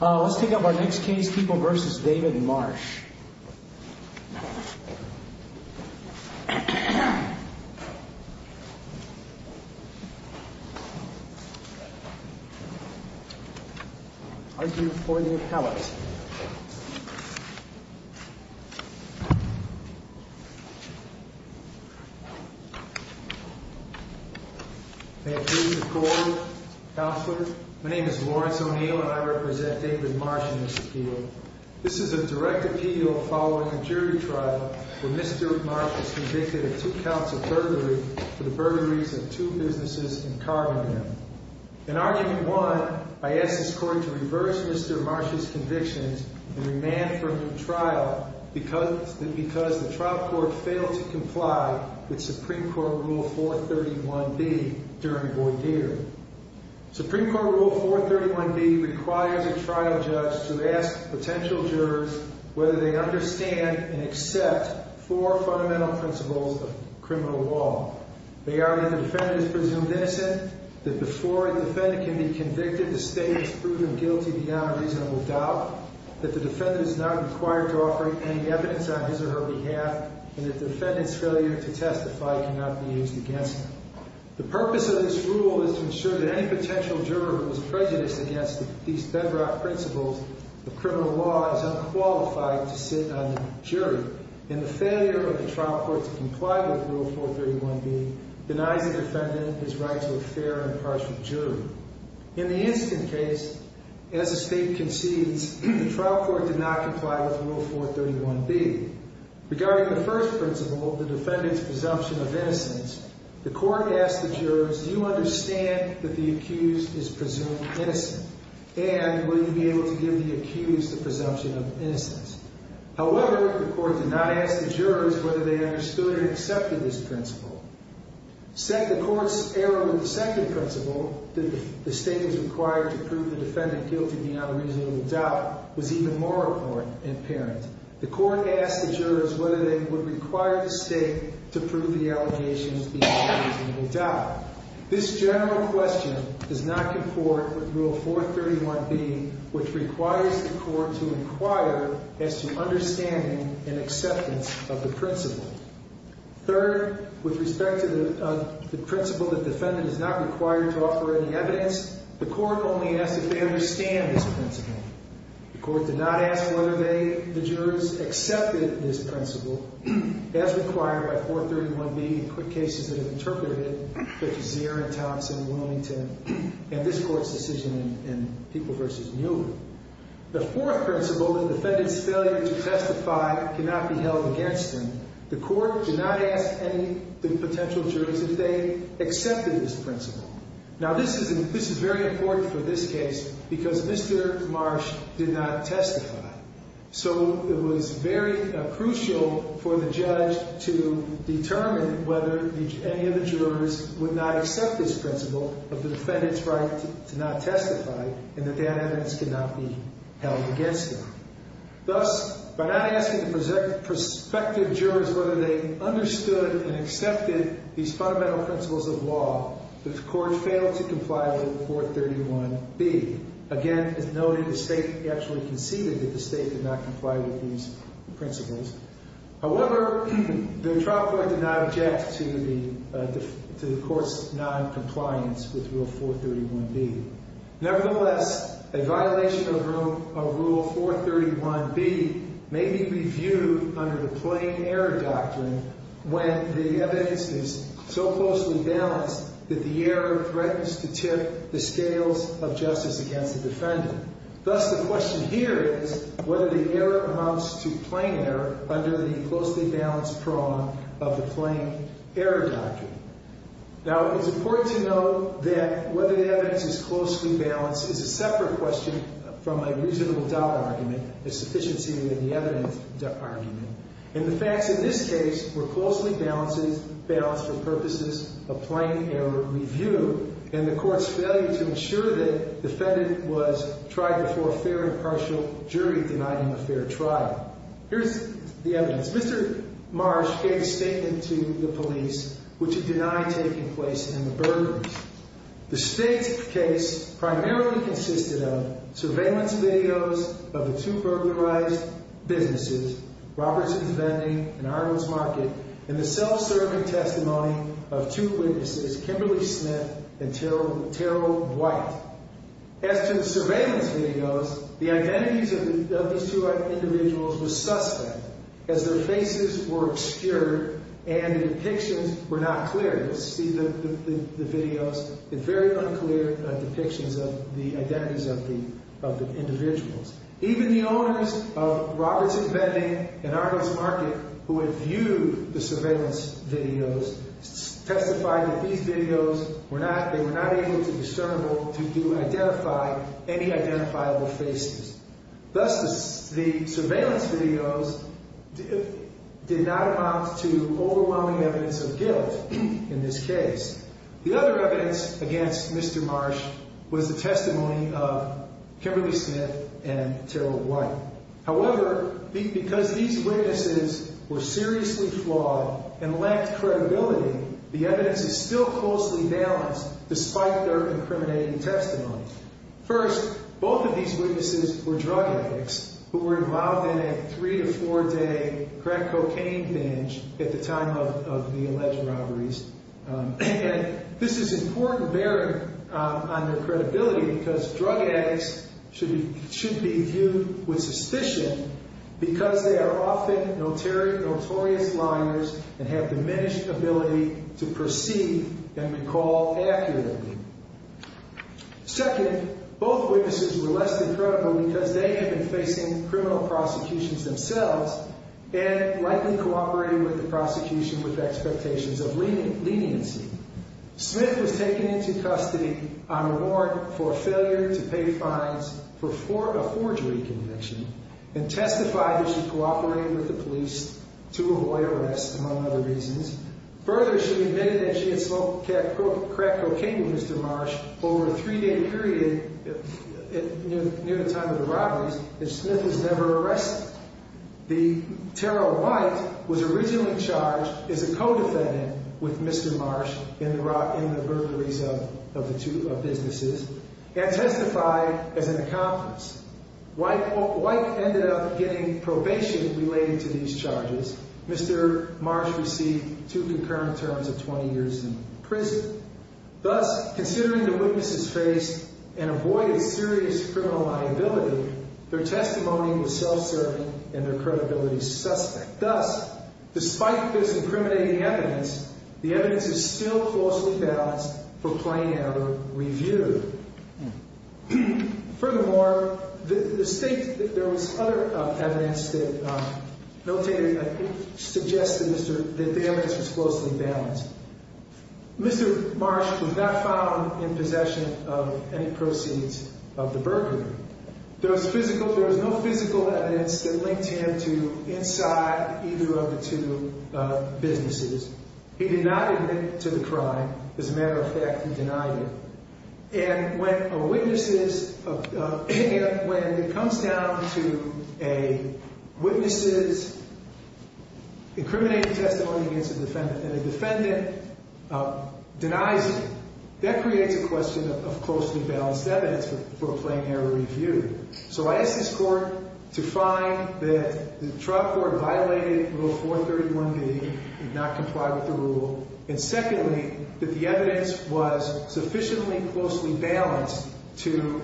Let's take up our next case, People v. David Marsh. Argue for the appellate. May it please the Court, Counselor, my name is Lawrence O'Neill and I represent David Marsh in this appeal. This is a direct appeal following a jury trial where Mr. Marsh was convicted of two counts of burglary for the burglaries of two businesses in Cargondale. In argument one, I ask this Court to reverse Mr. Marsh's convictions and remand for a new trial because the trial court failed to comply with Supreme Court Rule 431B during Boyd year. Supreme Court Rule 431B requires a trial judge to ask potential jurors whether they understand and accept four fundamental principles of criminal law. They are that the defendant is presumed innocent, that before a defendant can be convicted the state is proven guilty beyond reasonable doubt, that the defendant is not required to offer any evidence on his or her behalf, and that the defendant's failure to testify cannot be used against him. The purpose of this rule is to ensure that any potential juror who is prejudiced against these bedrock principles of criminal law is unqualified to sit on the jury. And the failure of the trial court to comply with Rule 431B denies the defendant his right to a fair and impartial jury. In the incident case, as the state concedes, the trial court did not comply with Rule 431B. Regarding the first principle, the defendant's presumption of innocence, the Court asked the jurors, do you understand that the accused is presumed innocent? And will you be able to give the accused the presumption of innocence? However, the Court did not ask the jurors whether they understood or accepted this principle. The Court's error in the second principle, that the state was required to prove the defendant guilty beyond reasonable doubt, was even more apparent. The Court asked the jurors whether they would require the state to prove the allegations beyond reasonable doubt. This general question does not comport with Rule 431B, which requires the Court to inquire as to understanding and acceptance of the principle. Third, with respect to the principle that the defendant is not required to offer any evidence, the Court only asked if they understand this principle. The Court did not ask whether they, the jurors, accepted this principle as required by 431B in quick cases that have interpreted it, such as Zierin, Thompson, Wilmington, and this Court's decision in People v. Mueller. The fourth principle, the defendant's failure to testify cannot be held against them, the Court did not ask any of the potential jurors if they accepted this principle. Now, this is very important for this case because Mr. Marsh did not testify. So it was very crucial for the judge to determine whether any of the jurors would not accept this principle of the defendant's right to not testify and that that evidence cannot be held against them. Thus, by not asking the prospective jurors whether they understood and accepted these fundamental principles of law, the Court failed to comply with 431B. Again, it's noted the state actually conceded that the state did not comply with these principles. However, the trial court did not object to the Court's noncompliance with Rule 431B. Nevertheless, a violation of Rule 431B may be reviewed under the plain error doctrine when the evidence is so closely balanced that the error threatens to tip the scales of justice against the defendant. Thus, the question here is whether the error amounts to plain error under the closely balanced prong of the plain error doctrine. Now, it's important to note that whether the evidence is closely balanced is a separate question from a reasonable doubt argument, a sufficiency in the evidence argument. And the facts in this case were closely balanced for purposes of plain error review. And the Court's failure to ensure that the defendant was tried before a fair and partial jury denied him a fair trial. Here's the evidence. Mr. Marsh gave a statement to the police which had denied taking place in the burglaries. The state's case primarily consisted of surveillance videos of the two burglarized businesses, Robertson's Vending and Arnold's Market, and the self-serving testimony of two witnesses, Kimberly Smith and Terrell White. As to the surveillance videos, the identities of these two individuals were suspect as their faces were obscured and the depictions were not clear. You'll see the videos, the very unclear depictions of the identities of the individuals. Even the owners of Robertson's Vending and Arnold's Market who had viewed the surveillance videos testified that these videos were not able to discernable to identify any identifiable faces. Thus, the surveillance videos did not amount to overwhelming evidence of guilt in this case. The other evidence against Mr. Marsh was the testimony of Kimberly Smith and Terrell White. However, because these witnesses were seriously flawed and lacked credibility, the evidence is still closely balanced despite their incriminating testimony. First, both of these witnesses were drug addicts who were involved in a three to four day crack cocaine binge at the time of the alleged robberies. And this is important bearing on their credibility because drug addicts should be viewed with suspicion because they are often notorious liars and have diminished ability to perceive and recall accurately. Second, both witnesses were less than credible because they had been facing criminal prosecutions themselves and likely cooperated with the prosecution with expectations of leniency. Smith was taken into custody on reward for failure to pay fines for a forgery conviction and testified that she cooperated with the police to avoid arrest, among other reasons. Further, she admitted that she had smoked crack cocaine with Mr. Marsh over a three The Terrell White was originally charged as a co-defendant with Mr. Marsh in the burglaries of the two businesses and testified as an accomplice. White ended up getting probation related to these charges. Mr. Marsh received two concurrent terms of 20 years in prison. Thus, considering the witnesses faced and avoided serious criminal liability, their credibility is suspect. Thus, despite this incriminating evidence, the evidence is still closely balanced for plain error review. Furthermore, the state, there was other evidence that suggested that the evidence was closely balanced. Mr. Marsh was not found in possession of any proceeds of the burglary. There was physical, there was no physical evidence that linked him to inside either of the two businesses. He did not admit to the crime. As a matter of fact, he denied it. And when a witness is, when it comes down to a witness's incriminating testimony against a defendant and a defendant denies it, that creates a question of closely balanced evidence for a plain error review. So I ask this Court to find that the trial court violated Rule 431B, did not comply with the rule. And secondly, that the evidence was sufficiently closely balanced to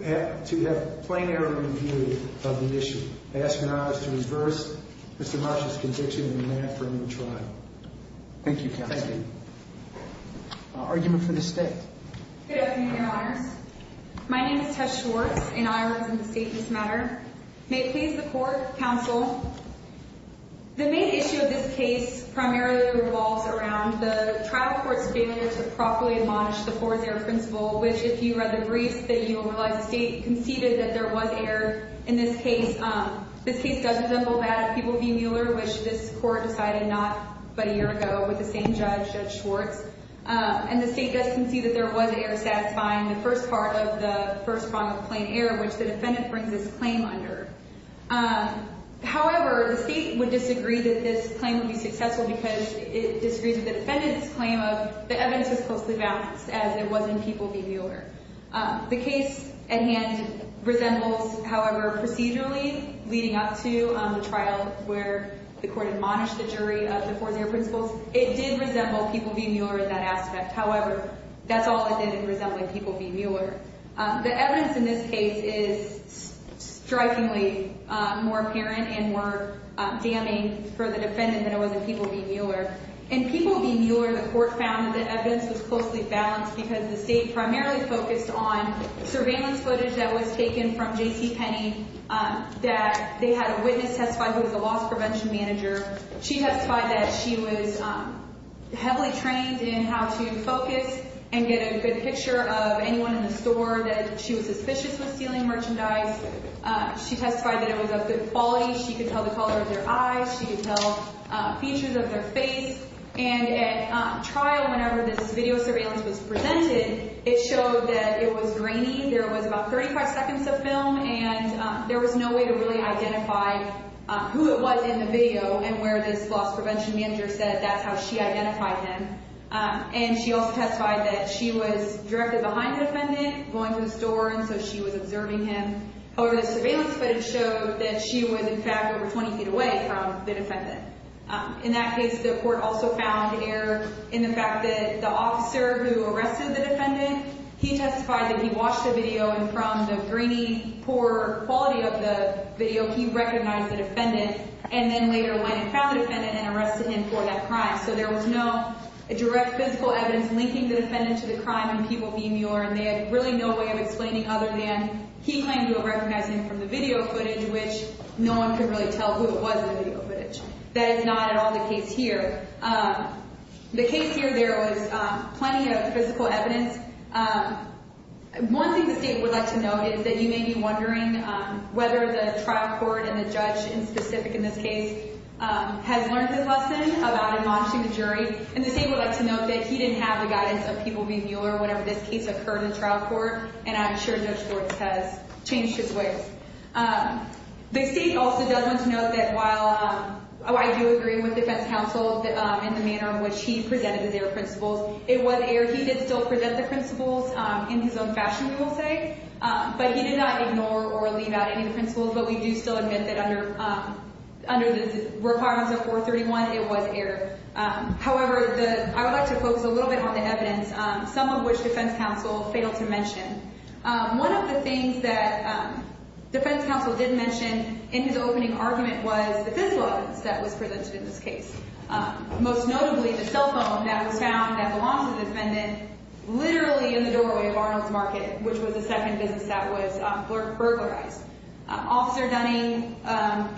have plain error review of the issue. I ask Your Honors to reverse Mr. Marsh's conviction and demand for a new trial. Thank you, Counsel. Thank you. Argument for the State. Good afternoon, Your Honors. My name is Tess Schwartz, and I represent the State in this matter. May it please the Court, Counsel, the main issue of this case primarily revolves around the trial court's failure to properly admonish the Poor's Error Principle, which if you read the briefs, then you'll realize the State conceded that there was error in this case. This case does resemble that of People v. Mueller, which this Court decided not about a year ago with the same judge, Judge Schwartz. And the State does concede that there was error satisfying the first part of the first prong of plain error, which the defendant brings this claim under. However, the State would disagree that this claim would be successful because it disagrees with the defendant's claim of the evidence was closely balanced, as it was in People v. Mueller. The case at hand resembles, however, procedurally, leading up to the trial where the Court admonished the jury of the Poor's Error Principles. It did resemble People v. Mueller in that aspect. However, that's all it did, it resembled People v. Mueller. The evidence in this case is strikingly more apparent and more damning for the defendant than it was in People v. Mueller. In People v. Mueller, the Court found that the evidence was closely balanced because the State primarily focused on surveillance footage that was taken from J.C. Penney that they had a witness testify who was a loss prevention manager. She testified that she was heavily trained in how to focus and get a good picture of anyone in the store that she was suspicious of stealing merchandise. She testified that it was of good quality. She could tell the color of their eyes. She could tell features of their face. And at trial, whenever this video surveillance was presented, it showed that it was grainy. There was about 35 seconds of film, and there was no way to really identify who it was in the video and where this loss prevention manager said that's how she identified him. And she also testified that she was directly behind the defendant, going to the store, and so she was observing him. However, the surveillance footage showed that she was, in fact, over 20 feet away from the defendant. In that case, the Court also found error in the fact that the officer who arrested the defendant, he testified that he watched the video, and from the grainy, poor quality of the video, he recognized the defendant, and then later went and found the defendant and arrested him for that crime. So there was no direct physical evidence linking the defendant to the crime in People v. Muir, and they had really no way of explaining other than he claimed to have recognized him from the video footage, which no one could really tell who it was in the video footage. That is not at all the case here. The case here, there was plenty of physical evidence. One thing the State would like to note is that you may be wondering whether the trial court and the judge in specific in this case has learned this lesson about admonishing the jury, and the State would like to note that he didn't have the guidance of People v. Muir whenever this case occurred in trial court, and I'm sure Judge Schwartz has changed his ways. The State also does want to note that while I do agree with defense counsel in the manner in which he presented his error principles, it was error. He did still present the principles in his own fashion, we will say, but he did not ignore or leave out any principles, but we do still admit that under the requirements of 431, it was error. However, I would like to focus a little bit on the evidence, some of which defense counsel failed to mention. One of the things that defense counsel did mention in his opening argument was the physical evidence that was presented in this case. Most notably, the cell phone that was found at the launch of the defendant, literally in the doorway of Arnold's Market, which was the second business that was burglarized. Officer Dunning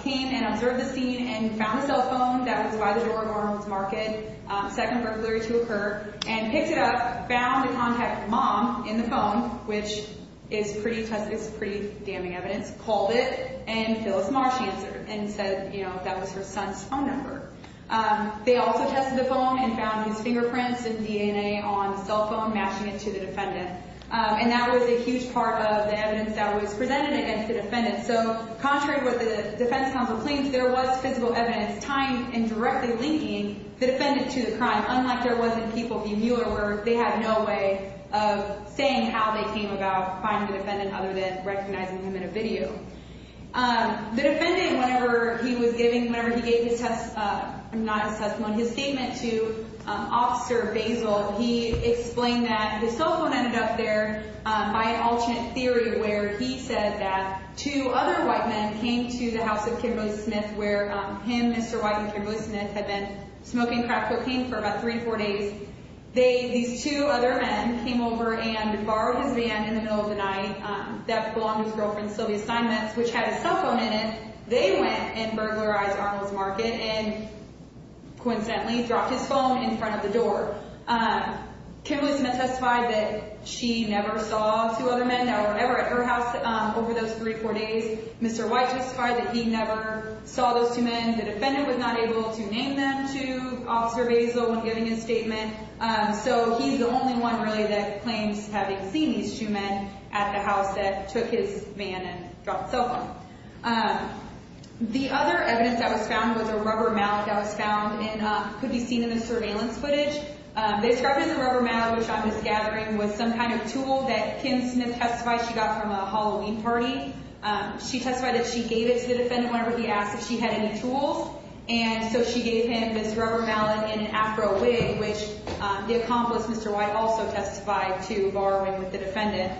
came and observed the scene and found a cell phone that was by the door of Arnold's Market, second burglary to occur, and picked it up, found the contact of the mom in the phone, which is pretty damning evidence, called it, and Phyllis Marsh answered and said, you know, that was her son's phone number. They also tested the phone and found his fingerprints and DNA on the cell phone matching it to the defendant, and that was a huge part of the evidence that was presented against the defendant. So, contrary to what the defense counsel claims, there was physical evidence tying and directly linking the defendant to the crime, unlike there was in People v. Mueller, where they had no way of saying how they came about finding the defendant other than recognizing him in a video. The defendant, whenever he was giving, whenever he gave his testimony, not his testimony, his statement to Officer Basil, he explained that his cell phone ended up there by an alternate theory where he said that two other white men came to the house of Kimbo Smith, where him, Mr. White, and Kimbo Smith had been smoking crack cocaine for about three to four days. They, these two other men, came over and borrowed his van in the middle of the night. That belonged to his girlfriend, Sylvia Simons, which had his cell phone in it. They went and burglarized Arnold's Market and, coincidentally, dropped his phone in front of the door. Kimbo Smith testified that she never saw two other men, or whatever, at her house over those three or four days. Mr. White testified that he never saw those two men. The defendant was not able to name them to Officer Basil when giving his statement. He's the only one, really, that claims having seen these two men at the house that took his van and dropped the cell phone. The other evidence that was found was a rubber mallet that was found and could be seen in the surveillance footage. They described it as a rubber mallet, which I was gathering, was some kind of tool that Kim Smith testified she got from a Halloween party. She testified that she gave it to the defendant whenever he asked if she had any tools. She gave him this rubber mallet and an Afro wig, which the accomplice, Mr. White, also testified to borrowing with the defendant.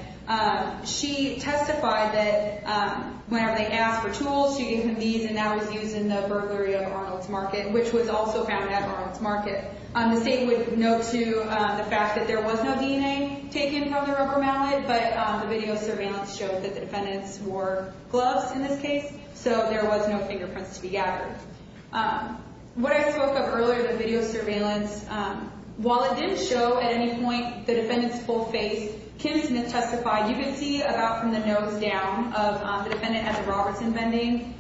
She testified that whenever they asked for tools, she gave him these, and that was used in the burglary of Arnold's Market, which was also found at Arnold's Market. The state would note, too, the fact that there was no DNA taken from the rubber mallet, but the video surveillance showed that the defendants wore gloves in this case, so there was no What I spoke of earlier, the video surveillance, while it didn't show at any point the defendant's full face, Kim Smith testified, you can see about from the nose down of the defendant at the Robertson vending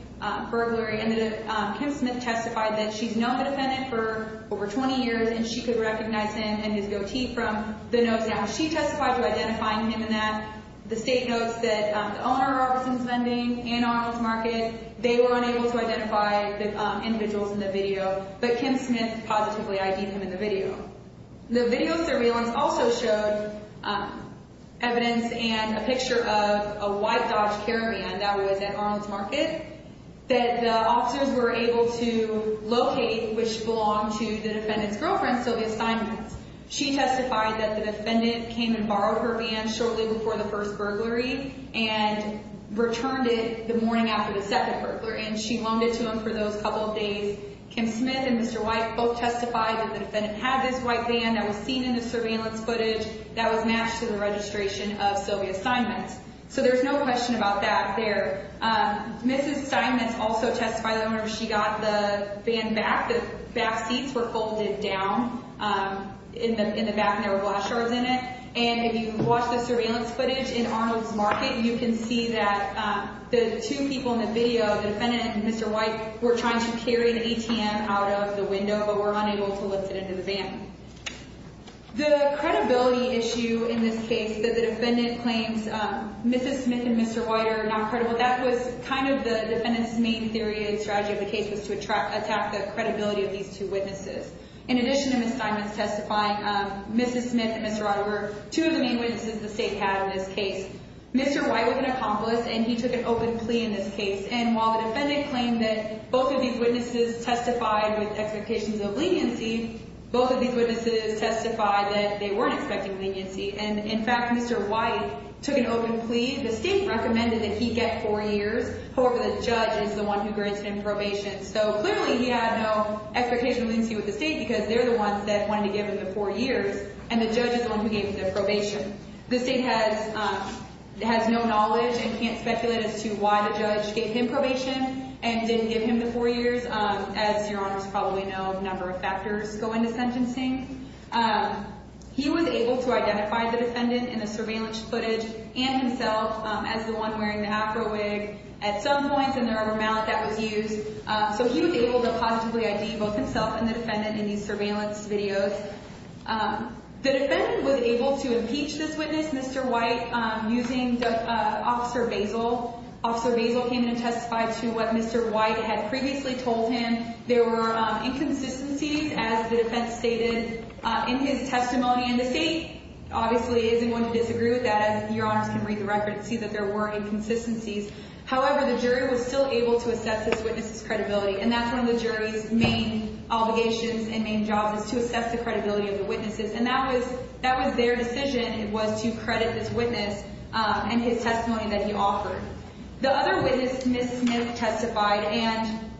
burglary, and Kim Smith testified that she's known the defendant for over 20 years and she could recognize him and his goatee from the nose down. She testified to identifying him in that. The state notes that the owner of Robertson's vending and Arnold's Market, they were unable to identify the individuals in the video, but Kim Smith positively ID'd him in the video. The video surveillance also showed evidence and a picture of a white Dodge Caravan that was at Arnold's Market that the officers were able to locate, which belonged to the defendant's girlfriend, Sylvia Steinmetz. She testified that the defendant came and borrowed her van shortly before the first burglary and she loaned it to him for those couple of days. Kim Smith and Mr. White both testified that the defendant had this white van that was seen in the surveillance footage that was matched to the registration of Sylvia Steinmetz. There's no question about that there. Mrs. Steinmetz also testified that whenever she got the van back, the back seats were folded down in the back and there were glass shards in it. If you watch the surveillance footage in Arnold's Market, you can see that the two people in the video, the defendant and Mr. White, were trying to carry the ATM out of the window, but were unable to lift it into the van. The credibility issue in this case that the defendant claims Mrs. Smith and Mr. White are not credible, that was kind of the defendant's main theory and strategy of the case was to attack the credibility of these two witnesses. In addition to Mrs. Steinmetz testifying, Mrs. Smith and Mr. White were two of the main witnesses the state had in this case. Mr. White was an accomplice and he took an open plea in this case. And while the defendant claimed that both of these witnesses testified with expectations of leniency, both of these witnesses testified that they weren't expecting leniency. And in fact, Mr. White took an open plea. The state recommended that he get four years. However, the judge is the one who granted him probation. So clearly he had no expectation of leniency with the state because they're the ones that wanted to give him the four years, and the judge is the one who gave him the probation. The state has no knowledge and can't speculate as to why the judge gave him probation and didn't give him the four years. As your honors probably know, a number of factors go into sentencing. He was able to identify the defendant in the surveillance footage and himself as the one wearing the Afro wig at some points in the rubber mallet that was used. So he was able to positively ID both himself and the defendant in these surveillance videos. The defendant was able to impeach this witness, Mr. White, using Officer Basil. Officer Basil came in and testified to what Mr. White had previously told him. There were inconsistencies, as the defense stated in his testimony. And the state obviously isn't going to disagree with that. Your honors can read the record and see that there were inconsistencies. However, the jury was still able to assess this witness's credibility, and that's one of the jury's main obligations and main jobs is to assess the credibility of the witnesses. And that was their decision was to credit this witness and his testimony that he offered. The other witness, Ms. Smith, testified. And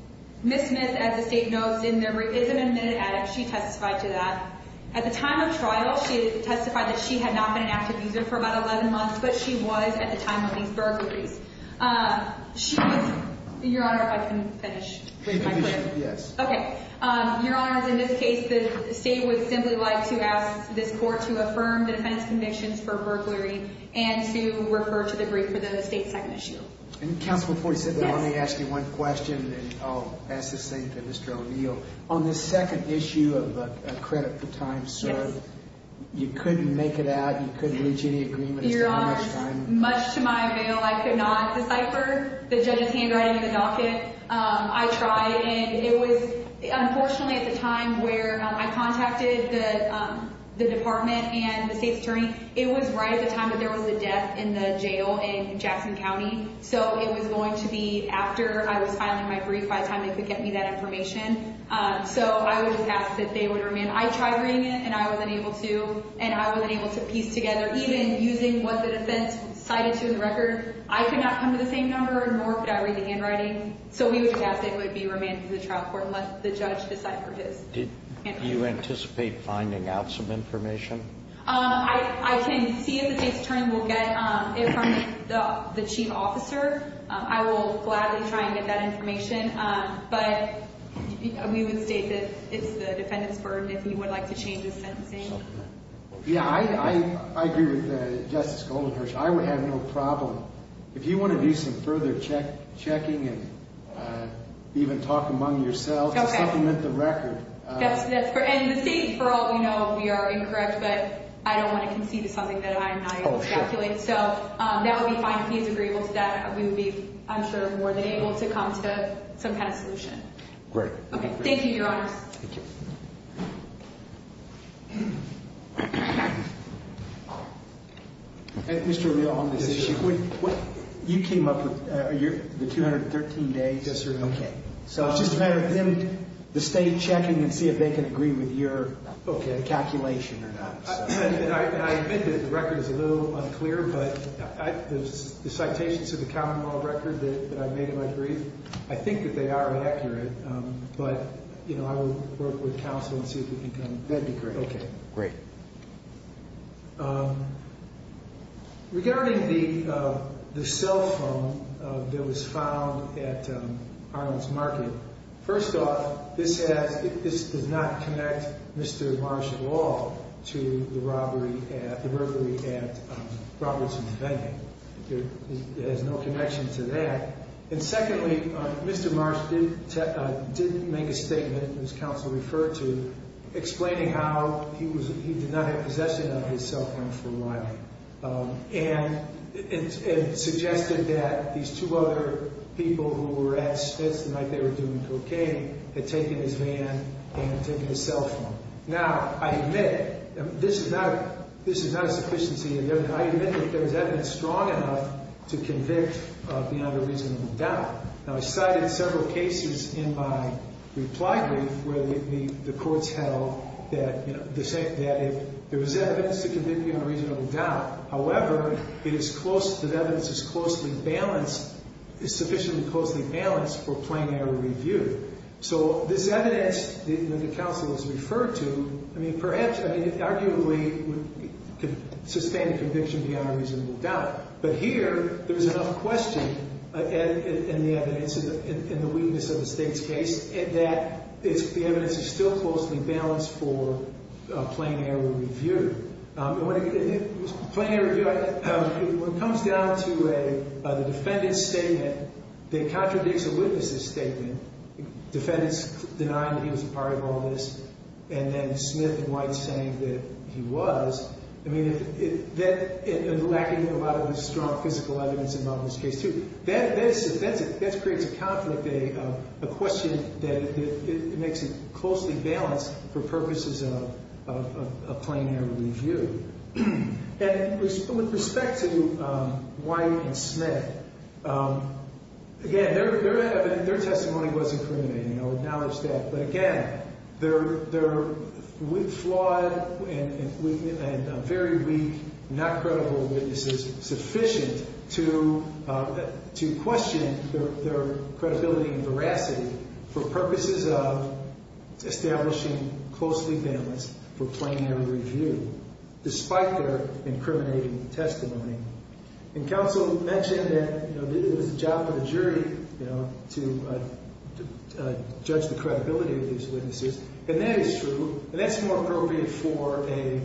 Ms. Smith, as the state notes, is an admitted addict. She testified to that. At the time of trial, she testified that she had not been an active user for about 11 months, but she was at the time of these burglaries. Your honor, if I can finish. Yes. Okay. Your honors, in this case, the state would simply like to ask this court to affirm the defense convictions for burglary and to refer to the brief for the state's second issue. And counsel, before you say that, let me ask you one question, and I'll pass this thing to Mr. O'Neill. On this second issue of credit for time served, you couldn't make it out, you couldn't reach any agreement? Your honors, much to my avail, I could not decipher the judge's handwriting in the docket. I tried, and it was unfortunately at the time where I contacted the department and the state's attorney, it was right at the time that there was a death in the jail in Jackson County. So it was going to be after I was filing my brief by the time they could get me that information. So I would just ask that they would remain. And I tried reading it, and I wasn't able to, and I wasn't able to piece together, even using what the defense cited to the record. I could not come to the same number, nor could I read the handwriting. So we would just ask that it would be remanded to the trial court and let the judge decipher his. Do you anticipate finding out some information? I can see if the state's attorney will get it from the chief officer. I will gladly try and get that information. But we would state that it's the defendant's burden if he would like to change his sentencing. Yeah, I agree with Justice Goldenherz. I would have no problem. If you want to do some further checking and even talk among yourselves, supplement the record. And the state, for all we know, we are incorrect, but I don't want to concede to something that I'm not able to speculate. So that would be fine if he's agreeable to that. We would be, I'm sure, more than able to come to some kind of solution. Great. Thank you, Your Honors. Thank you. Mr. O'Neill, on this issue, you came up with the 213 days. Yes, sir. Okay. So it's just a matter of them, the state, checking and see if they can agree with your calculation or not. I admit that the record is a little unclear, but the citations of the common law record that I made in my brief, I think that they are accurate. But, you know, I will work with counsel and see if we can come to an agreement. Okay, great. Regarding the cell phone that was found at Harlem's Market, first off, this does not connect Mr. Marsh at all to the robbery at Robertson's Venue. It has no connection to that. And secondly, Mr. Marsh did make a statement, as counsel referred to, explaining how he did not have possession of his cell phone for a while. And it suggested that these two other people who were at Smith's the night they were doing cocaine had taken his van and taken his cell phone. Now, I admit, this is not a sufficiency of evidence. I admit that there was evidence strong enough to convict beyond a reasonable doubt. Now, I cited several cases in my reply brief where the courts held that there was evidence to convict beyond a reasonable doubt. However, it is close, that evidence is closely balanced, is sufficiently closely balanced for plain error review. So this evidence that counsel has referred to, I mean, perhaps, I mean, it arguably could sustain a conviction beyond a reasonable doubt. But here, there's enough question in the evidence, in the weakness of the state's case, that the evidence is still closely balanced for plain error review. And when it comes down to a defendant's statement that contradicts a witness's statement, defendants denying that he was a part of all this, and then Smith and White saying that he was, I mean, lacking a lot of strong physical evidence involved in this case, too. That creates a conflict, a question that makes it closely balanced for purposes of plain error review. And with respect to White and Smith, again, their testimony was incriminating, I'll acknowledge that. But again, they're flawed and very weak, not credible witnesses sufficient to question their credibility and veracity for purposes of establishing closely balanced for plain error review, despite their incriminating testimony. And counsel mentioned that it was the job of the jury to judge the credibility of these witnesses. And that is true, and that's more appropriate for a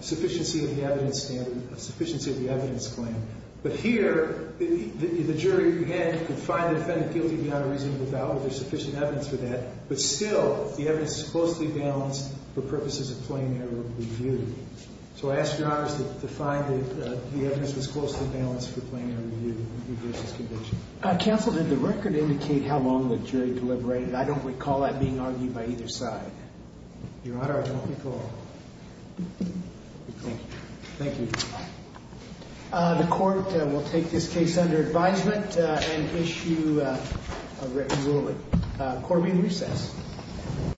sufficiency of the evidence standard, a sufficiency of the evidence claim. But here, the jury again could find the defendant guilty beyond a reasonable doubt. There's sufficient evidence for that. But still, the evidence is closely balanced for purposes of plain error review. So I ask your honors to find the evidence that's closely balanced for plain error review in regards to this conviction. Counsel, did the record indicate how long the jury deliberated? I don't recall that being argued by either side. Your honor, I don't recall. Thank you. Thank you. The court will take this case under advisement and issue a written ruling. Court will be in recess.